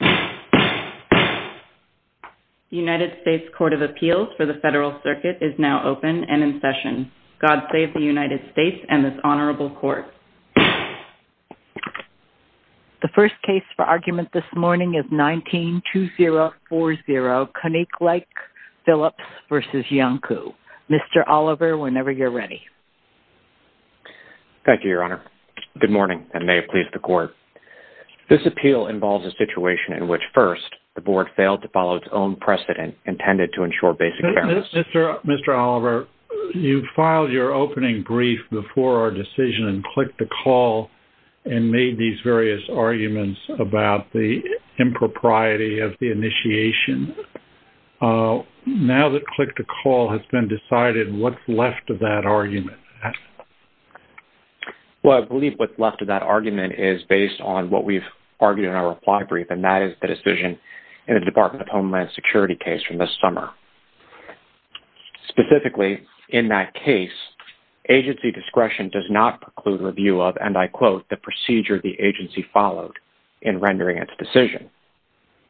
The United States Court of Appeals for the Federal Circuit is now open and in session. God save the United States and this honorable court. The first case for argument this morning is 192040, Koninklijke Philips v. Iancu. Mr. Oliver, whenever you're ready. Thank you, Your Honor. Good morning, and may it please the Court. This appeal involves a situation in which, first, the board failed to follow its own precedent intended to ensure basic fairness. Mr. Oliver, you filed your opening brief before our decision and clicked the call and made these various arguments about the impropriety of the initiation. Now that click the call has been decided, what's left of that argument? Well, I believe what's left of that argument is based on what we've argued in our reply brief, and that is the decision in the Department of Homeland Security case from this summer. Specifically, in that case, agency discretion does not preclude review of, and I quote, the procedure the agency followed in rendering its decision.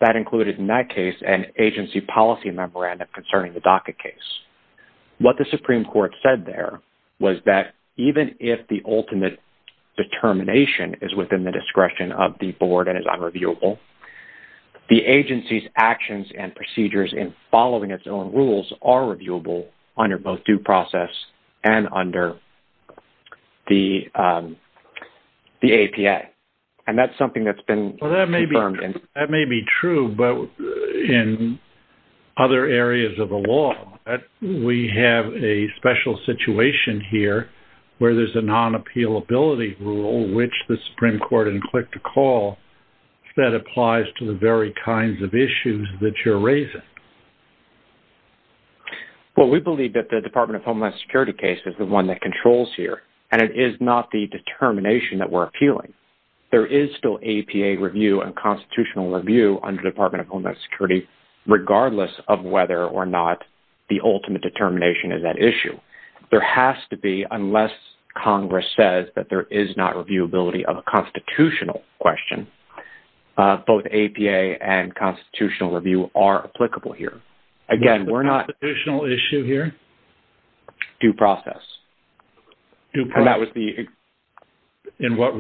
That included, in that case, an agency policy memorandum concerning the DACA case. What the Supreme Court said there was that even if the ultimate determination is within the discretion of the board and is unreviewable, the agency's actions and procedures in following its own rules are reviewable under both due process and under the APA. And that's something that's been confirmed. That may be true, but in other areas of the law, we have a special situation here where there's a non-appealability rule, which the Supreme Court didn't click the call, that applies to the very kinds of issues that you're raising. Well, we believe that the Department of Homeland Security case is the one that controls here, and it is not the determination that we're appealing. There is still APA review and constitutional review under the Department of Homeland Security, regardless of whether or not the ultimate determination is at issue. There has to be, unless Congress says that there is not reviewability of a constitutional question, both APA and constitutional review are applicable here. Again, we're not— What's the constitutional issue here? Due process. Due process. And that was the— In what—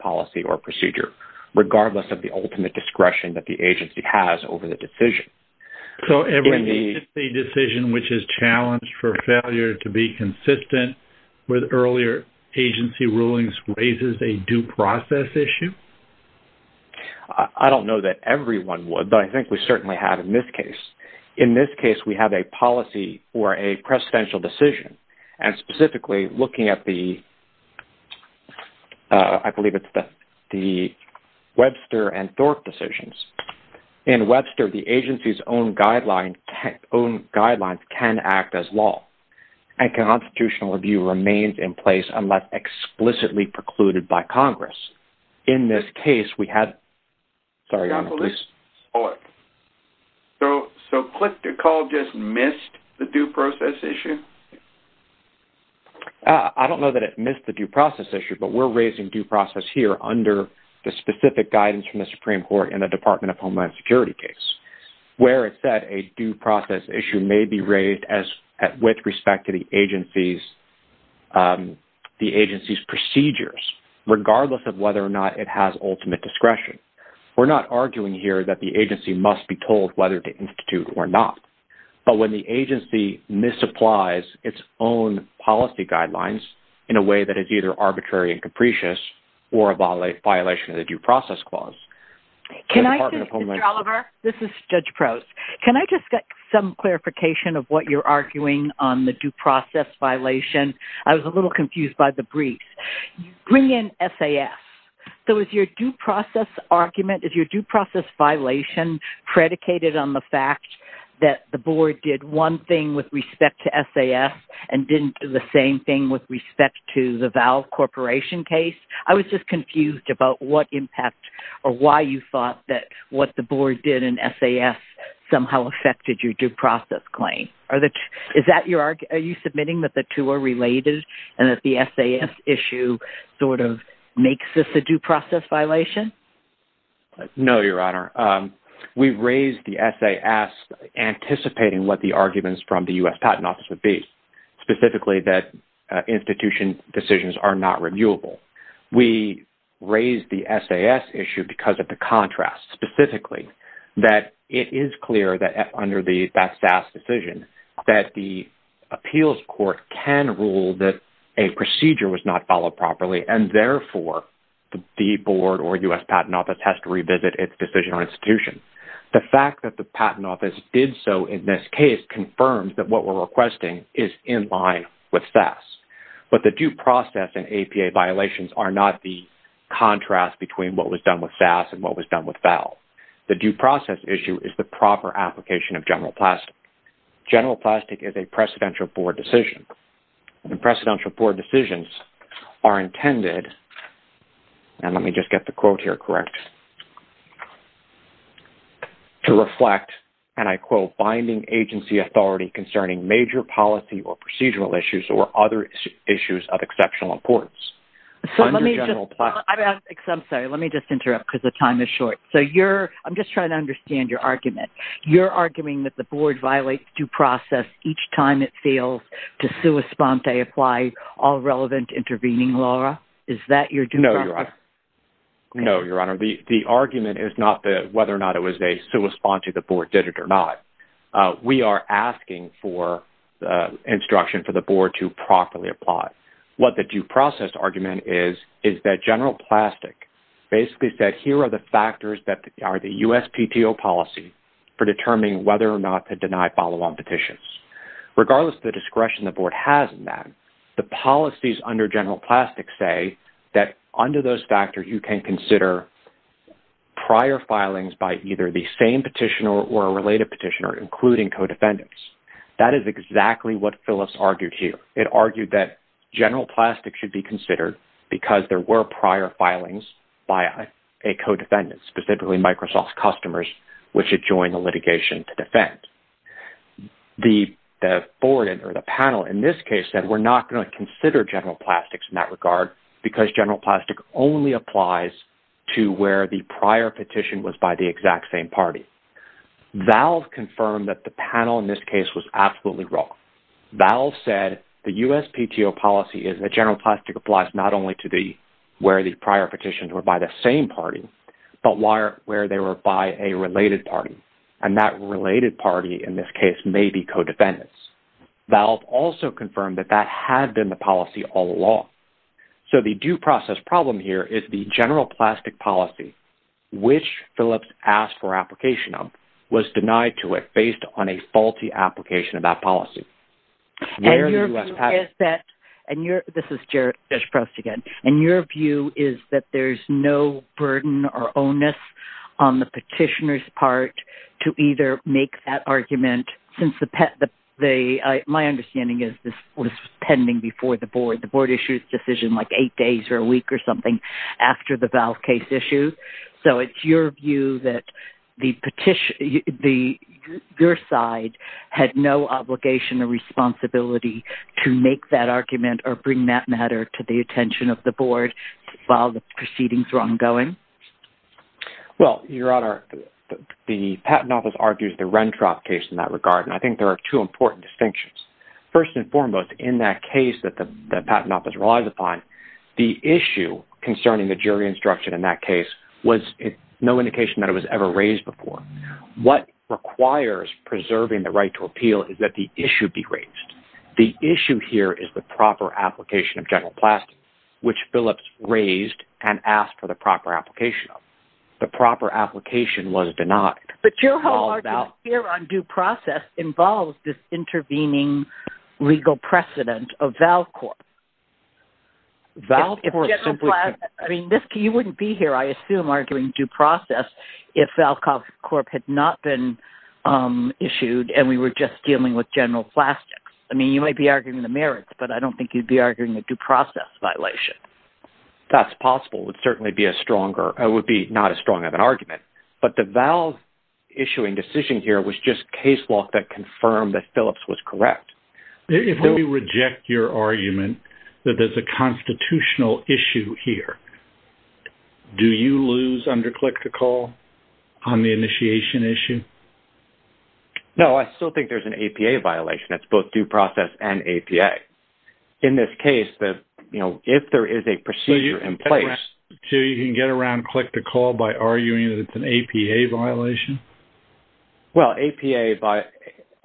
policy or procedure, regardless of the ultimate discretion that the agency has over the decision. So, every agency decision which is challenged for failure to be consistent with earlier agency rulings raises a due process issue? I don't know that everyone would, but I think we certainly have in this case. In this case, we have a policy or a precedential decision, and specifically, looking at the—I believe it's the Webster and Thorpe decisions. In Webster, the agency's own guidelines can act as law, and constitutional review remains in place unless explicitly precluded by Congress. In this case, we have— Sorry, John. Please. Hold it. So, Clif DeCaul just missed the due process issue? I don't know that it missed the due process issue, but we're raising due process here under the specific guidance from the Supreme Court in the Department of Homeland Security case, where it said a due process issue may be raised as—with respect to the agency's procedures, regardless of whether or not it has ultimate discretion. We're not arguing here that the agency must be told whether to institute or not. But when the agency misapplies its own policy guidelines in a way that is either arbitrary and capricious or a violation of the due process clause, the Department of Homeland Security— Can I just— Mr. Oliver? This is Judge Prowse. Can I just get some clarification of what you're arguing on the due process violation? I was a little confused by the brief. You bring in SAS. So, is your due process argument—is your due process violation predicated on the fact that the board did one thing with respect to SAS and didn't do the same thing with respect to the Valve Corporation case? I was just confused about what impact or why you thought that what the board did in SAS somehow affected your due process claim. Are you submitting that the two are related and that the SAS issue sort of makes this a due process violation? No, Your Honor. We raised the SAS anticipating what the arguments from the U.S. Patent Office would be, specifically that institution decisions are not reviewable. We raised the SAS issue because of the contrast, specifically that it is clear that under that SAS decision that the appeals court can rule that a procedure was not followed properly and, therefore, the board or U.S. Patent Office has to revisit its decision or institution. The fact that the Patent Office did so in this case confirms that what we're requesting is in line with SAS. But the due process and APA violations are not the contrast between what was done with SAS and what was done with Valve. The due process issue is the proper application of general plastic. General plastic is a presidential board decision. The presidential board decisions are intended, and let me just get the quote here correct, to reflect, and I quote, binding agency authority concerning major policy or procedural issues or other issues of exceptional importance under general plastic. I'm sorry. Let me just interrupt because the time is short. I'm just trying to understand your argument. You're arguing that the board violates due process each time it fails to sua sponte apply all relevant intervening law. Is that your due process? No, Your Honor. No, Your Honor. The argument is not whether or not it was a sua sponte the board did it or not. We are asking for instruction for the board to properly apply. What the due process argument is is that general plastic basically said here are the factors that are the USPTO policy for determining whether or not to deny follow-on petitions. Regardless of the discretion the board has in that, the policies under general plastic say that under those factors, you can consider prior filings by either the same petitioner or a related petitioner, including co-defendants. That is exactly what Phillips argued here. It argued that general plastic should be considered because there were prior filings by a co-defendant, specifically Microsoft's customers, which it joined the litigation to defend. The board or the panel in this case said we're not going to consider general plastics in that regard because general plastic only applies to where the prior petition was by the exact same party. Valve confirmed that the panel in this case was absolutely wrong. Valve said the USPTO policy is that general plastic applies not only to where the prior petitions were by the same party, but where they were by a related party. And that related party in this case may be co-defendants. Valve also confirmed that that had been the policy all along. So the due process problem here is the general plastic policy, which Phillips asked for application of, was denied to it based on a faulty application of that policy. And your view is that there's no burden or onus on the petitioner's part to either make that argument, since my understanding is this was pending before the board. The board issued a decision like eight days or a week or something after the Valve case issue. So it's your view that your side had no obligation or responsibility to make that argument or bring that matter to the attention of the board while the proceedings were ongoing? Well, Your Honor, the Patent Office argues the Rentrop case in that regard, and I think there are two important distinctions. First and foremost, in that case that the Patent Office relies upon, the issue concerning the jury instruction in that case was no indication that it was ever raised before. What requires preserving the right to appeal is that the issue be raised. The issue here is the proper application of general plastic, which Phillips raised and asked for the proper application of. The proper application was denied. But your whole argument here on due process involves this intervening legal precedent of Valve Corp. I mean, Miski, you wouldn't be here, I assume, arguing due process if Valve Corp. had not been issued and we were just dealing with general plastics. I mean, you might be arguing the merits, but I don't think you'd be arguing a due process violation. That's possible. It would certainly be not as strong of an argument. But the Valve issuing decision here was just case law that confirmed that Phillips was correct. If we reject your argument that there's a constitutional issue here, do you lose under click-to-call on the initiation issue? No, I still think there's an APA violation. It's both due process and APA. In this case, if there is a procedure in place— So you can get around click-to-call by arguing that it's an APA violation? Well,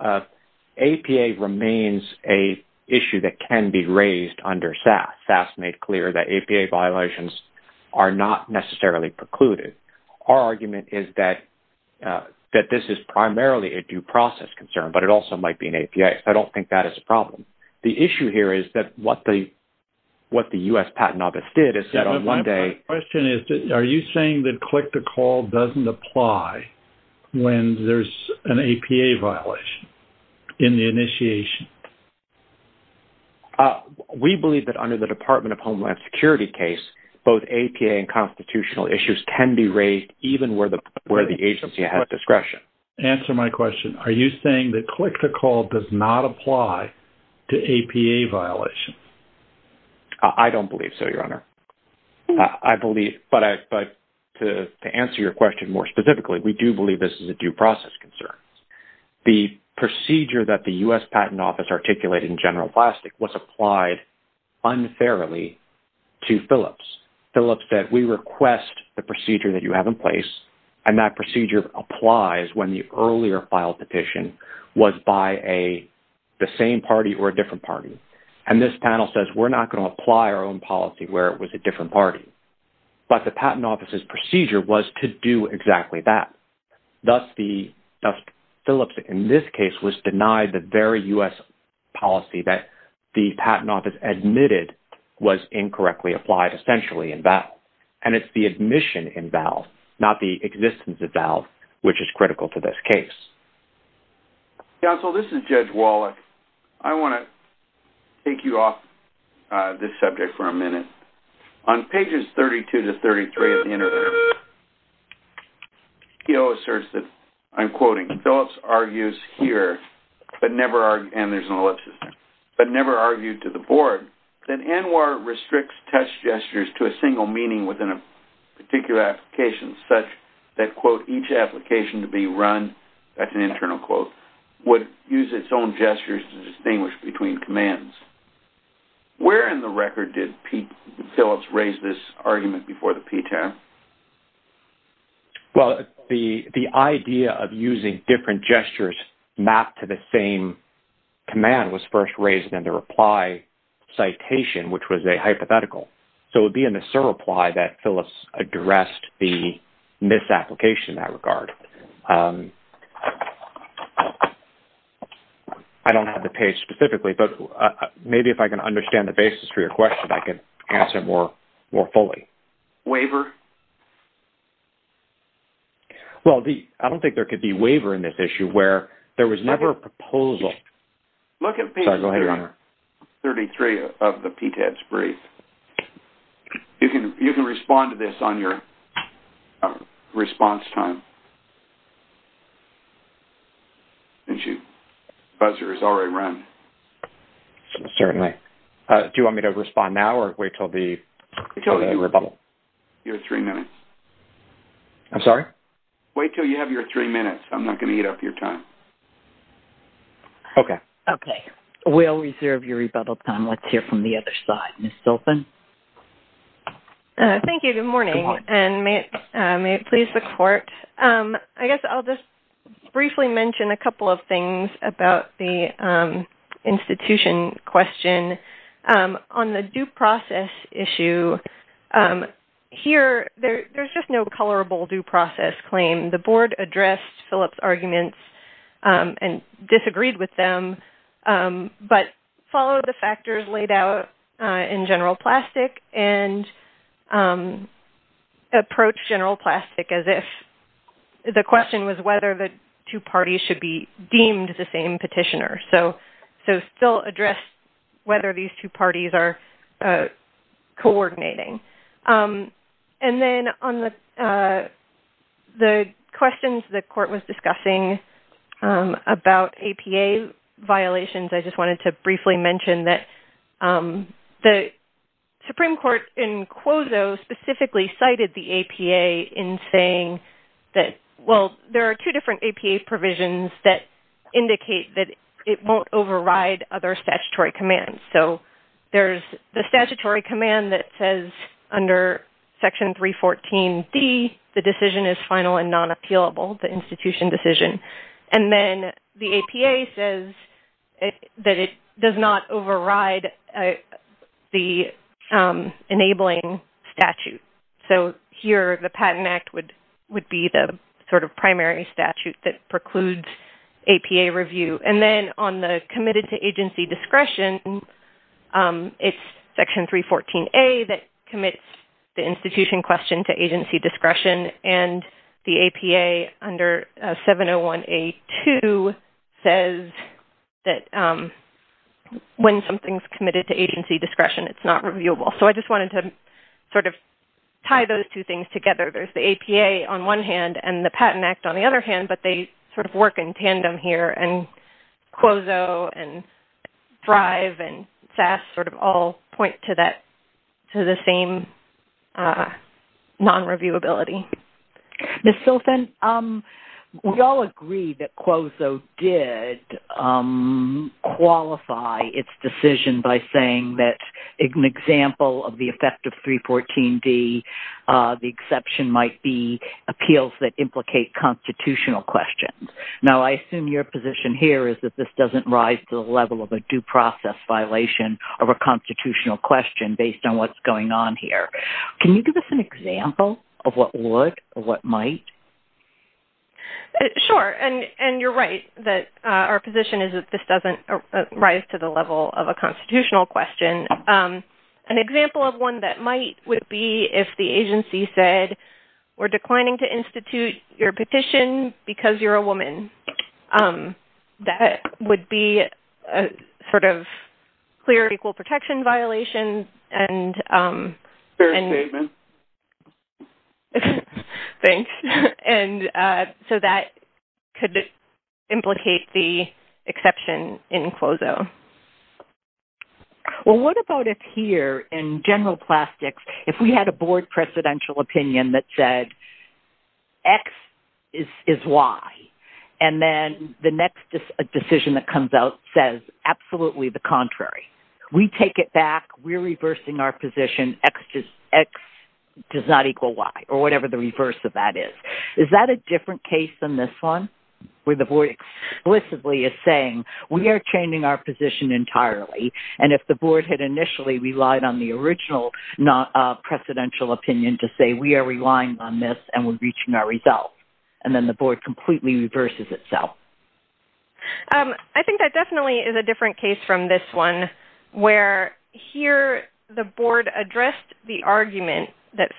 APA remains an issue that can be raised under SAS. SAS made clear that APA violations are not necessarily precluded. Our argument is that this is primarily a due process concern, but it also might be an APA. I don't think that is a problem. The issue here is that what the U.S. Patent Office did is that on one day— My question is, are you saying that click-to-call doesn't apply when there's an APA violation in the initiation? We believe that under the Department of Homeland Security case, both APA and constitutional issues can be raised even where the agency has discretion. Answer my question. Are you saying that click-to-call does not apply to APA violations? I don't believe so, Your Honor. I believe—but to answer your question more specifically, we do believe this is a due process concern. The procedure that the U.S. Patent Office articulated in General Plastic was applied unfairly to Philips. Philips said, we request the procedure that you have in place, and that procedure applies when the earlier filed petition was by the same party or a different party. And this panel says, we're not going to apply our own policy where it was a different party. But the Patent Office's procedure was to do exactly that. Thus, Philips, in this case, was denied the very U.S. policy that the Patent Office admitted was incorrectly applied, essentially, in vows. And it's the admission in vows, not the existence of vows, which is critical to this case. Counsel, this is Judge Wallach. I want to take you off this subject for a minute. On pages 32 to 33 of the interview, he asserts that, I'm quoting, Philips argues here, but never—and there's an ellipsis here—but never argued to the board that ANWR restricts test gestures to a single meaning within a particular application, such that, quote, each application to be run, that's an internal quote, would use its own gestures to distinguish between commands. Where in the record did Philips raise this argument before the PTAB? Well, the idea of using different gestures mapped to the same command was first raised in the reply citation, which was a hypothetical. So it would be in the SIR reply that Philips addressed the misapplication in that regard. I don't have the page specifically, but maybe if I can understand the basis for your question, I can answer it more fully. Waiver? Well, I don't think there could be waiver in this issue, where there was never a proposal. Look at page 33 of the PTAB's brief. You can respond to this on your response time. The buzzer has already run. Certainly. Do you want me to respond now or wait until the rebuttal? You have three minutes. I'm sorry? Wait until you have your three minutes. I'm not going to eat up your time. Okay. Okay. We'll reserve your rebuttal time. Let's hear from the other side. Ms. Dolfin? Thank you. Good morning. Good morning. May it please the court? I guess I'll just briefly mention a couple of things about the institution question. On the due process issue, here, there's just no colorable due process claim. The board addressed Philips' arguments and disagreed with them, but followed the factors laid out in general plastic and approached general plastic as if the question was whether the two parties should be deemed the same petitioner. So, still addressed whether these two parties are coordinating. And then, on the questions the court was discussing about APA violations, I just wanted to briefly mention that the Supreme Court in Quozo specifically cited the APA in saying that, well, there are two different APA provisions that indicate that it won't override other statutory commands. So, there's the statutory command that says under Section 314D, the decision is final and non-appealable, the institution decision. And then, the APA says that it does not override the enabling statute. So, here, the Patent Act would be the sort of primary statute that precludes APA review. And then, on the committed to agency discretion, it's Section 314A that commits the institution question to agency discretion. And the APA under 701A2 says that when something's committed to agency discretion, it's not reviewable. So, I just wanted to sort of tie those two things together. There's the APA on one hand and the Patent Act on the other hand, but they sort of work in tandem here. And Quozo and Thrive and SAS sort of all point to the same non-reviewability. Ms. Silfen? We all agree that Quozo did qualify its decision by saying that an example of the effect of 314D, the exception might be appeals that implicate constitutional questions. Now, I assume your position here is that this doesn't rise to the level of a due process violation of a constitutional question based on what's going on here. Can you give us an example of what would or what might? Sure, and you're right that our position is that this doesn't rise to the level of a constitutional question. An example of one that might would be if the agency said, we're declining to institute your petition because you're a woman. That would be a sort of clear equal protection violation. Fair statement. Thanks. So, that could implicate the exception in Quozo. Well, what about if here in general plastics, if we had a board presidential opinion that said X is Y, and then the next decision that comes out says absolutely the contrary. We take it back. We're reversing our position. X does not equal Y or whatever the reverse of that is. Is that a different case than this one where the board explicitly is saying, we are changing our position entirely, and if the board had initially relied on the original presidential opinion to say we are relying on this and we're reaching our results, and then the board completely reverses itself? I think that definitely is a different case from this one where here the board addressed the argument that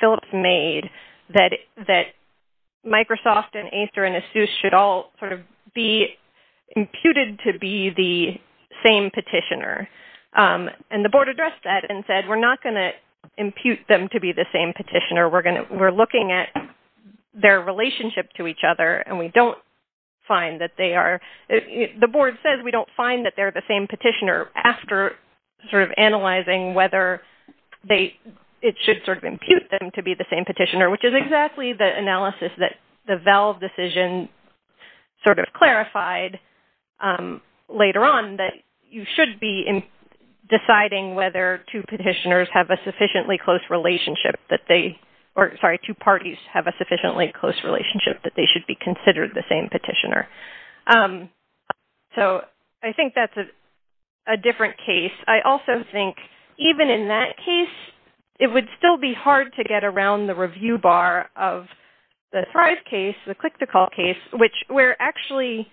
Microsoft and Acer and Asus should all sort of be imputed to be the same petitioner, and the board addressed that and said we're not going to impute them to be the same petitioner. We're looking at their relationship to each other, and we don't find that they are. The board says we don't find that they're the same petitioner after sort of analyzing whether it should sort of simply the analysis that the Vell decision sort of clarified later on that you should be deciding whether two petitioners have a sufficiently close relationship that they, or sorry, two parties have a sufficiently close relationship that they should be considered the same petitioner. So I think that's a different case. I also think even in that case it would still be hard to get around the review bar of the Thrive case, the Click to Call case, which where actually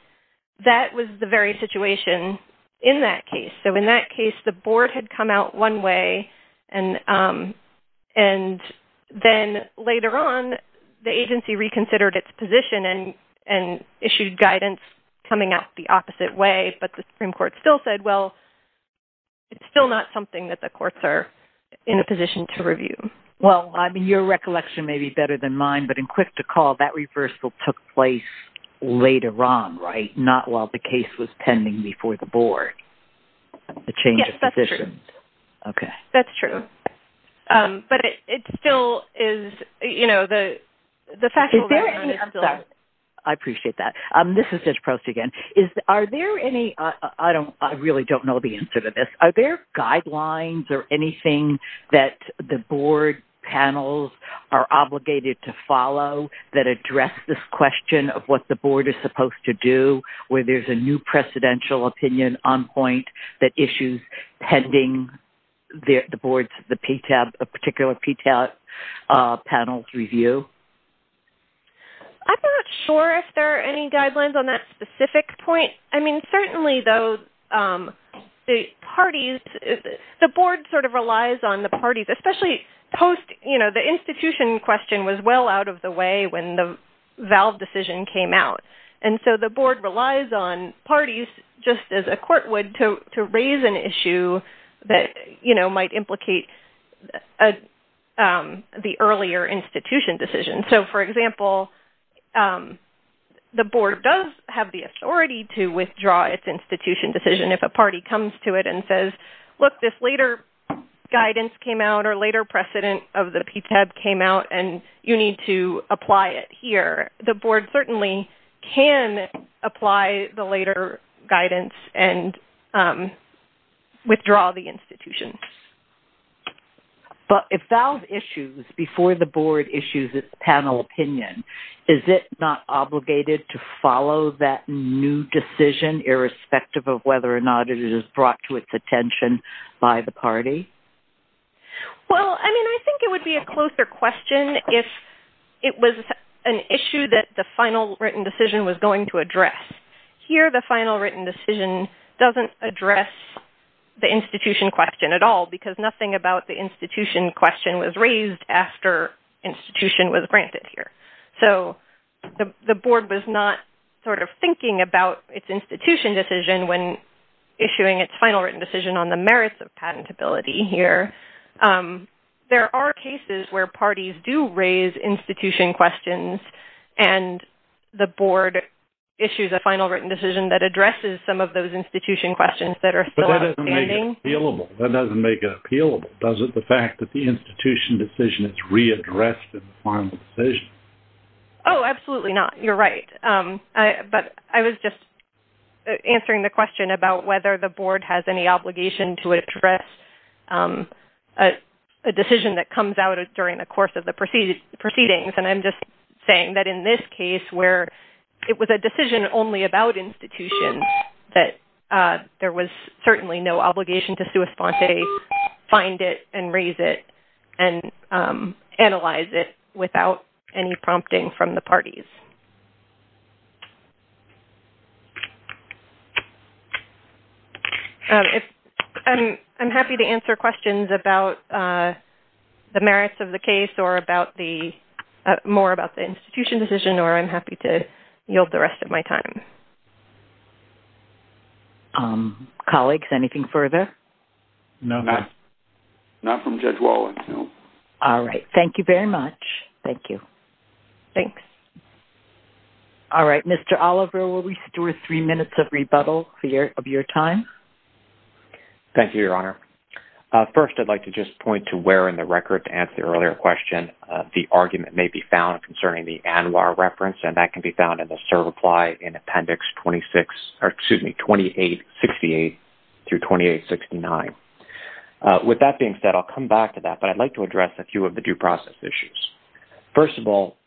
that was the very situation in that case. So in that case the board had come out one way, and then later on the agency reconsidered its position and issued guidance coming out the opposite way, but the Supreme Court still said, well, it's still not something that the courts are in a position to review. Well, I mean, your recollection may be better than mine, but in Click to Call that reversal took place later on, right? Not while the case was pending before the board, the change of positions. Yes, that's true. Okay. That's true. But it still is, you know, the factual... I'm sorry. I appreciate that. This is Ms. Prost again. Are there any, I don't, I really don't know the answer to this. Are there guidelines or anything that the board panels are obligated to follow that address this question of what the board is supposed to do where there's a new presidential opinion on point that issues pending the board's, the PTAP, a particular PTAP panel's review? I'm not sure if there are any guidelines on that specific point. I mean, certainly, though, the parties, the board sort of relies on the parties, especially post, you know, the institution question was well out of the way when the valve decision came out, and so the board relies on parties just as a court would to raise an issue that, you know, might implicate the earlier institution decision. So, for example, the board does have the authority to withdraw its institution decision if a party comes to it and says, look, this later guidance came out or later precedent of the PTAP came out, and you need to apply it here. The board certainly can apply the later guidance and withdraw the institution. But if valve issues before the board issues its panel opinion, is it not obligated to follow that new decision irrespective of whether or not it is brought to its attention by the party? Well, I mean, I think it would be a closer question if it was an issue that the final written decision was going to address. Here, the final written decision doesn't address the institution question at all because nothing about the institution question was raised after institution was granted here. So, the board was not sort of thinking about its institution decision when issuing its final written decision on the merits of patentability here. There are cases where parties do raise institution questions and the board issues a final written decision that addresses some of those institution questions that are still outstanding. But that doesn't make it appealable. That doesn't make it appealable, does it? The fact that the institution decision is readdressed in the final decision. Oh, absolutely not. You're right. But I was just answering the question about whether the board has any obligation to address a decision that comes out during the course of the proceedings. And I'm just saying that in this case where it was a decision only about institutions, that there was certainly no obligation to sui sponte, find it and raise it and analyze it without any prompting from the parties. I'm happy to answer questions about the merits of the case or more about the institution decision or I'm happy to yield the rest of my time. Colleagues, anything further? No. Not from Judge Wallen. No. All right. Thank you very much. Thank you. Thanks. All right. Mr. Oliver, will we store three minutes of rebuttal of your time? Thank you, Your Honor. First, I'd like to just point to where in the record to answer the earlier question. The argument may be found concerning the ANWR reference and that can be found in the Serve Apply in Appendix 2868 through 2869. With that being said, I'll come back to that, but I'd like to address a few of the due process issues. First of all,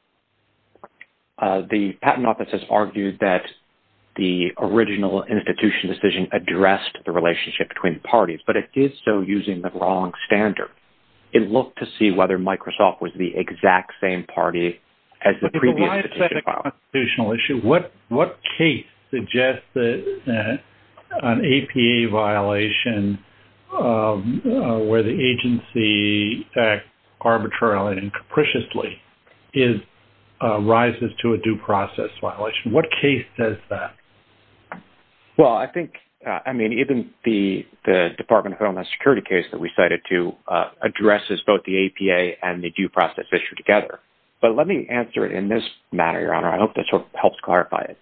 the Patent Office has argued that the original institution decision addressed the relationship between the parties, but it did so using the wrong standard. It looked to see whether Microsoft was the exact same party as the previous institution. What case suggests that an APA violation where the agency acts arbitrarily and capriciously rises to a due process violation? What case does that? Well, I think, I mean, even the Department of Homeland Security case that we cited to addresses both the APA and the due process issue together. But let me answer it in this manner, Your Honor. I hope this helps clarify it.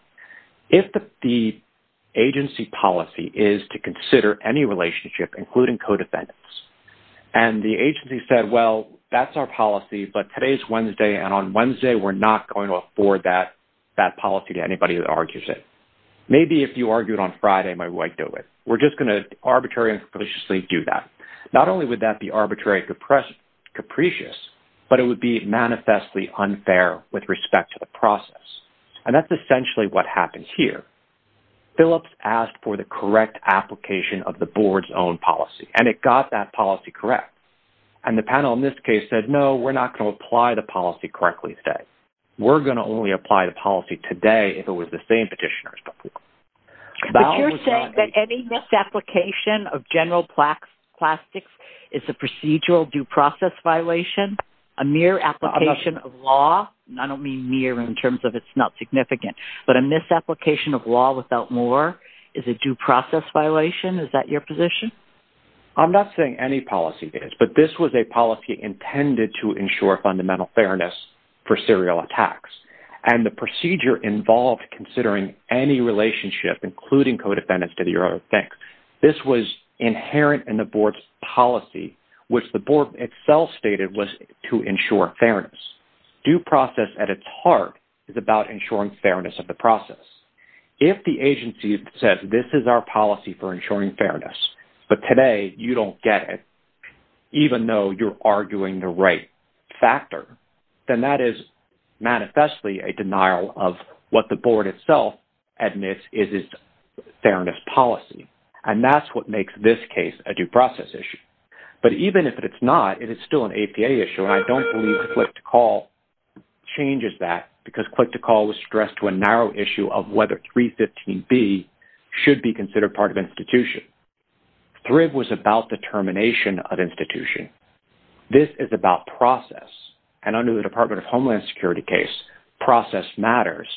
If the agency policy is to consider any relationship including co-defendants and the agency said, well, that's our policy, but today's Wednesday and on Wednesday we're not going to afford that policy to anybody that argues it. Maybe if you argued on Friday, my wife would do it. We're just going to arbitrarily and capriciously do that. Not only would that be arbitrary and capricious, but it would be manifestly unfair with respect to the process. And that's essentially what happens here. Phillips asked for the correct application of the board's own policy, and it got that policy correct. And the panel in this case said, no, we're not going to apply the policy correctly today. We're going to only apply the policy today if it was the same petitioner as before. But you're saying that any misapplication of general plastics is a procedural due process violation? A mere application of law? I don't mean mere in terms of it's not significant. But a misapplication of law without more is a due process violation? Is that your position? I'm not saying any policy is, but this was a policy intended to ensure fundamental fairness for serial attacks. And the procedure involved considering any relationship, including co-defendants, to the serial attack. This was inherent in the board's policy, which the board itself stated was to ensure fairness. Due process at its heart is about ensuring fairness of the process. If the agency says, this is our policy for ensuring fairness, but today you don't get it, even though you're arguing the right factor, then that is manifestly a denial of what the board itself admits is its fairness policy. And that's what makes this case a due process issue. But even if it's not, it is still an APA issue, and I don't believe Click-to-Call changes that, because Click-to-Call was stressed to a narrow issue of whether 315B should be considered part of institution. Thrib was about determination of institution. This is about process, and under the Department of Homeland Security case, process matters,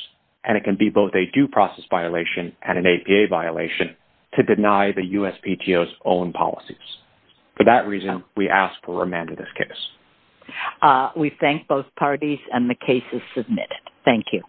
and it can be both a due process violation and an APA violation to deny the USPTO's own policies. For that reason, we ask for a remand of this case. We thank both parties, and the case is submitted. Thank you.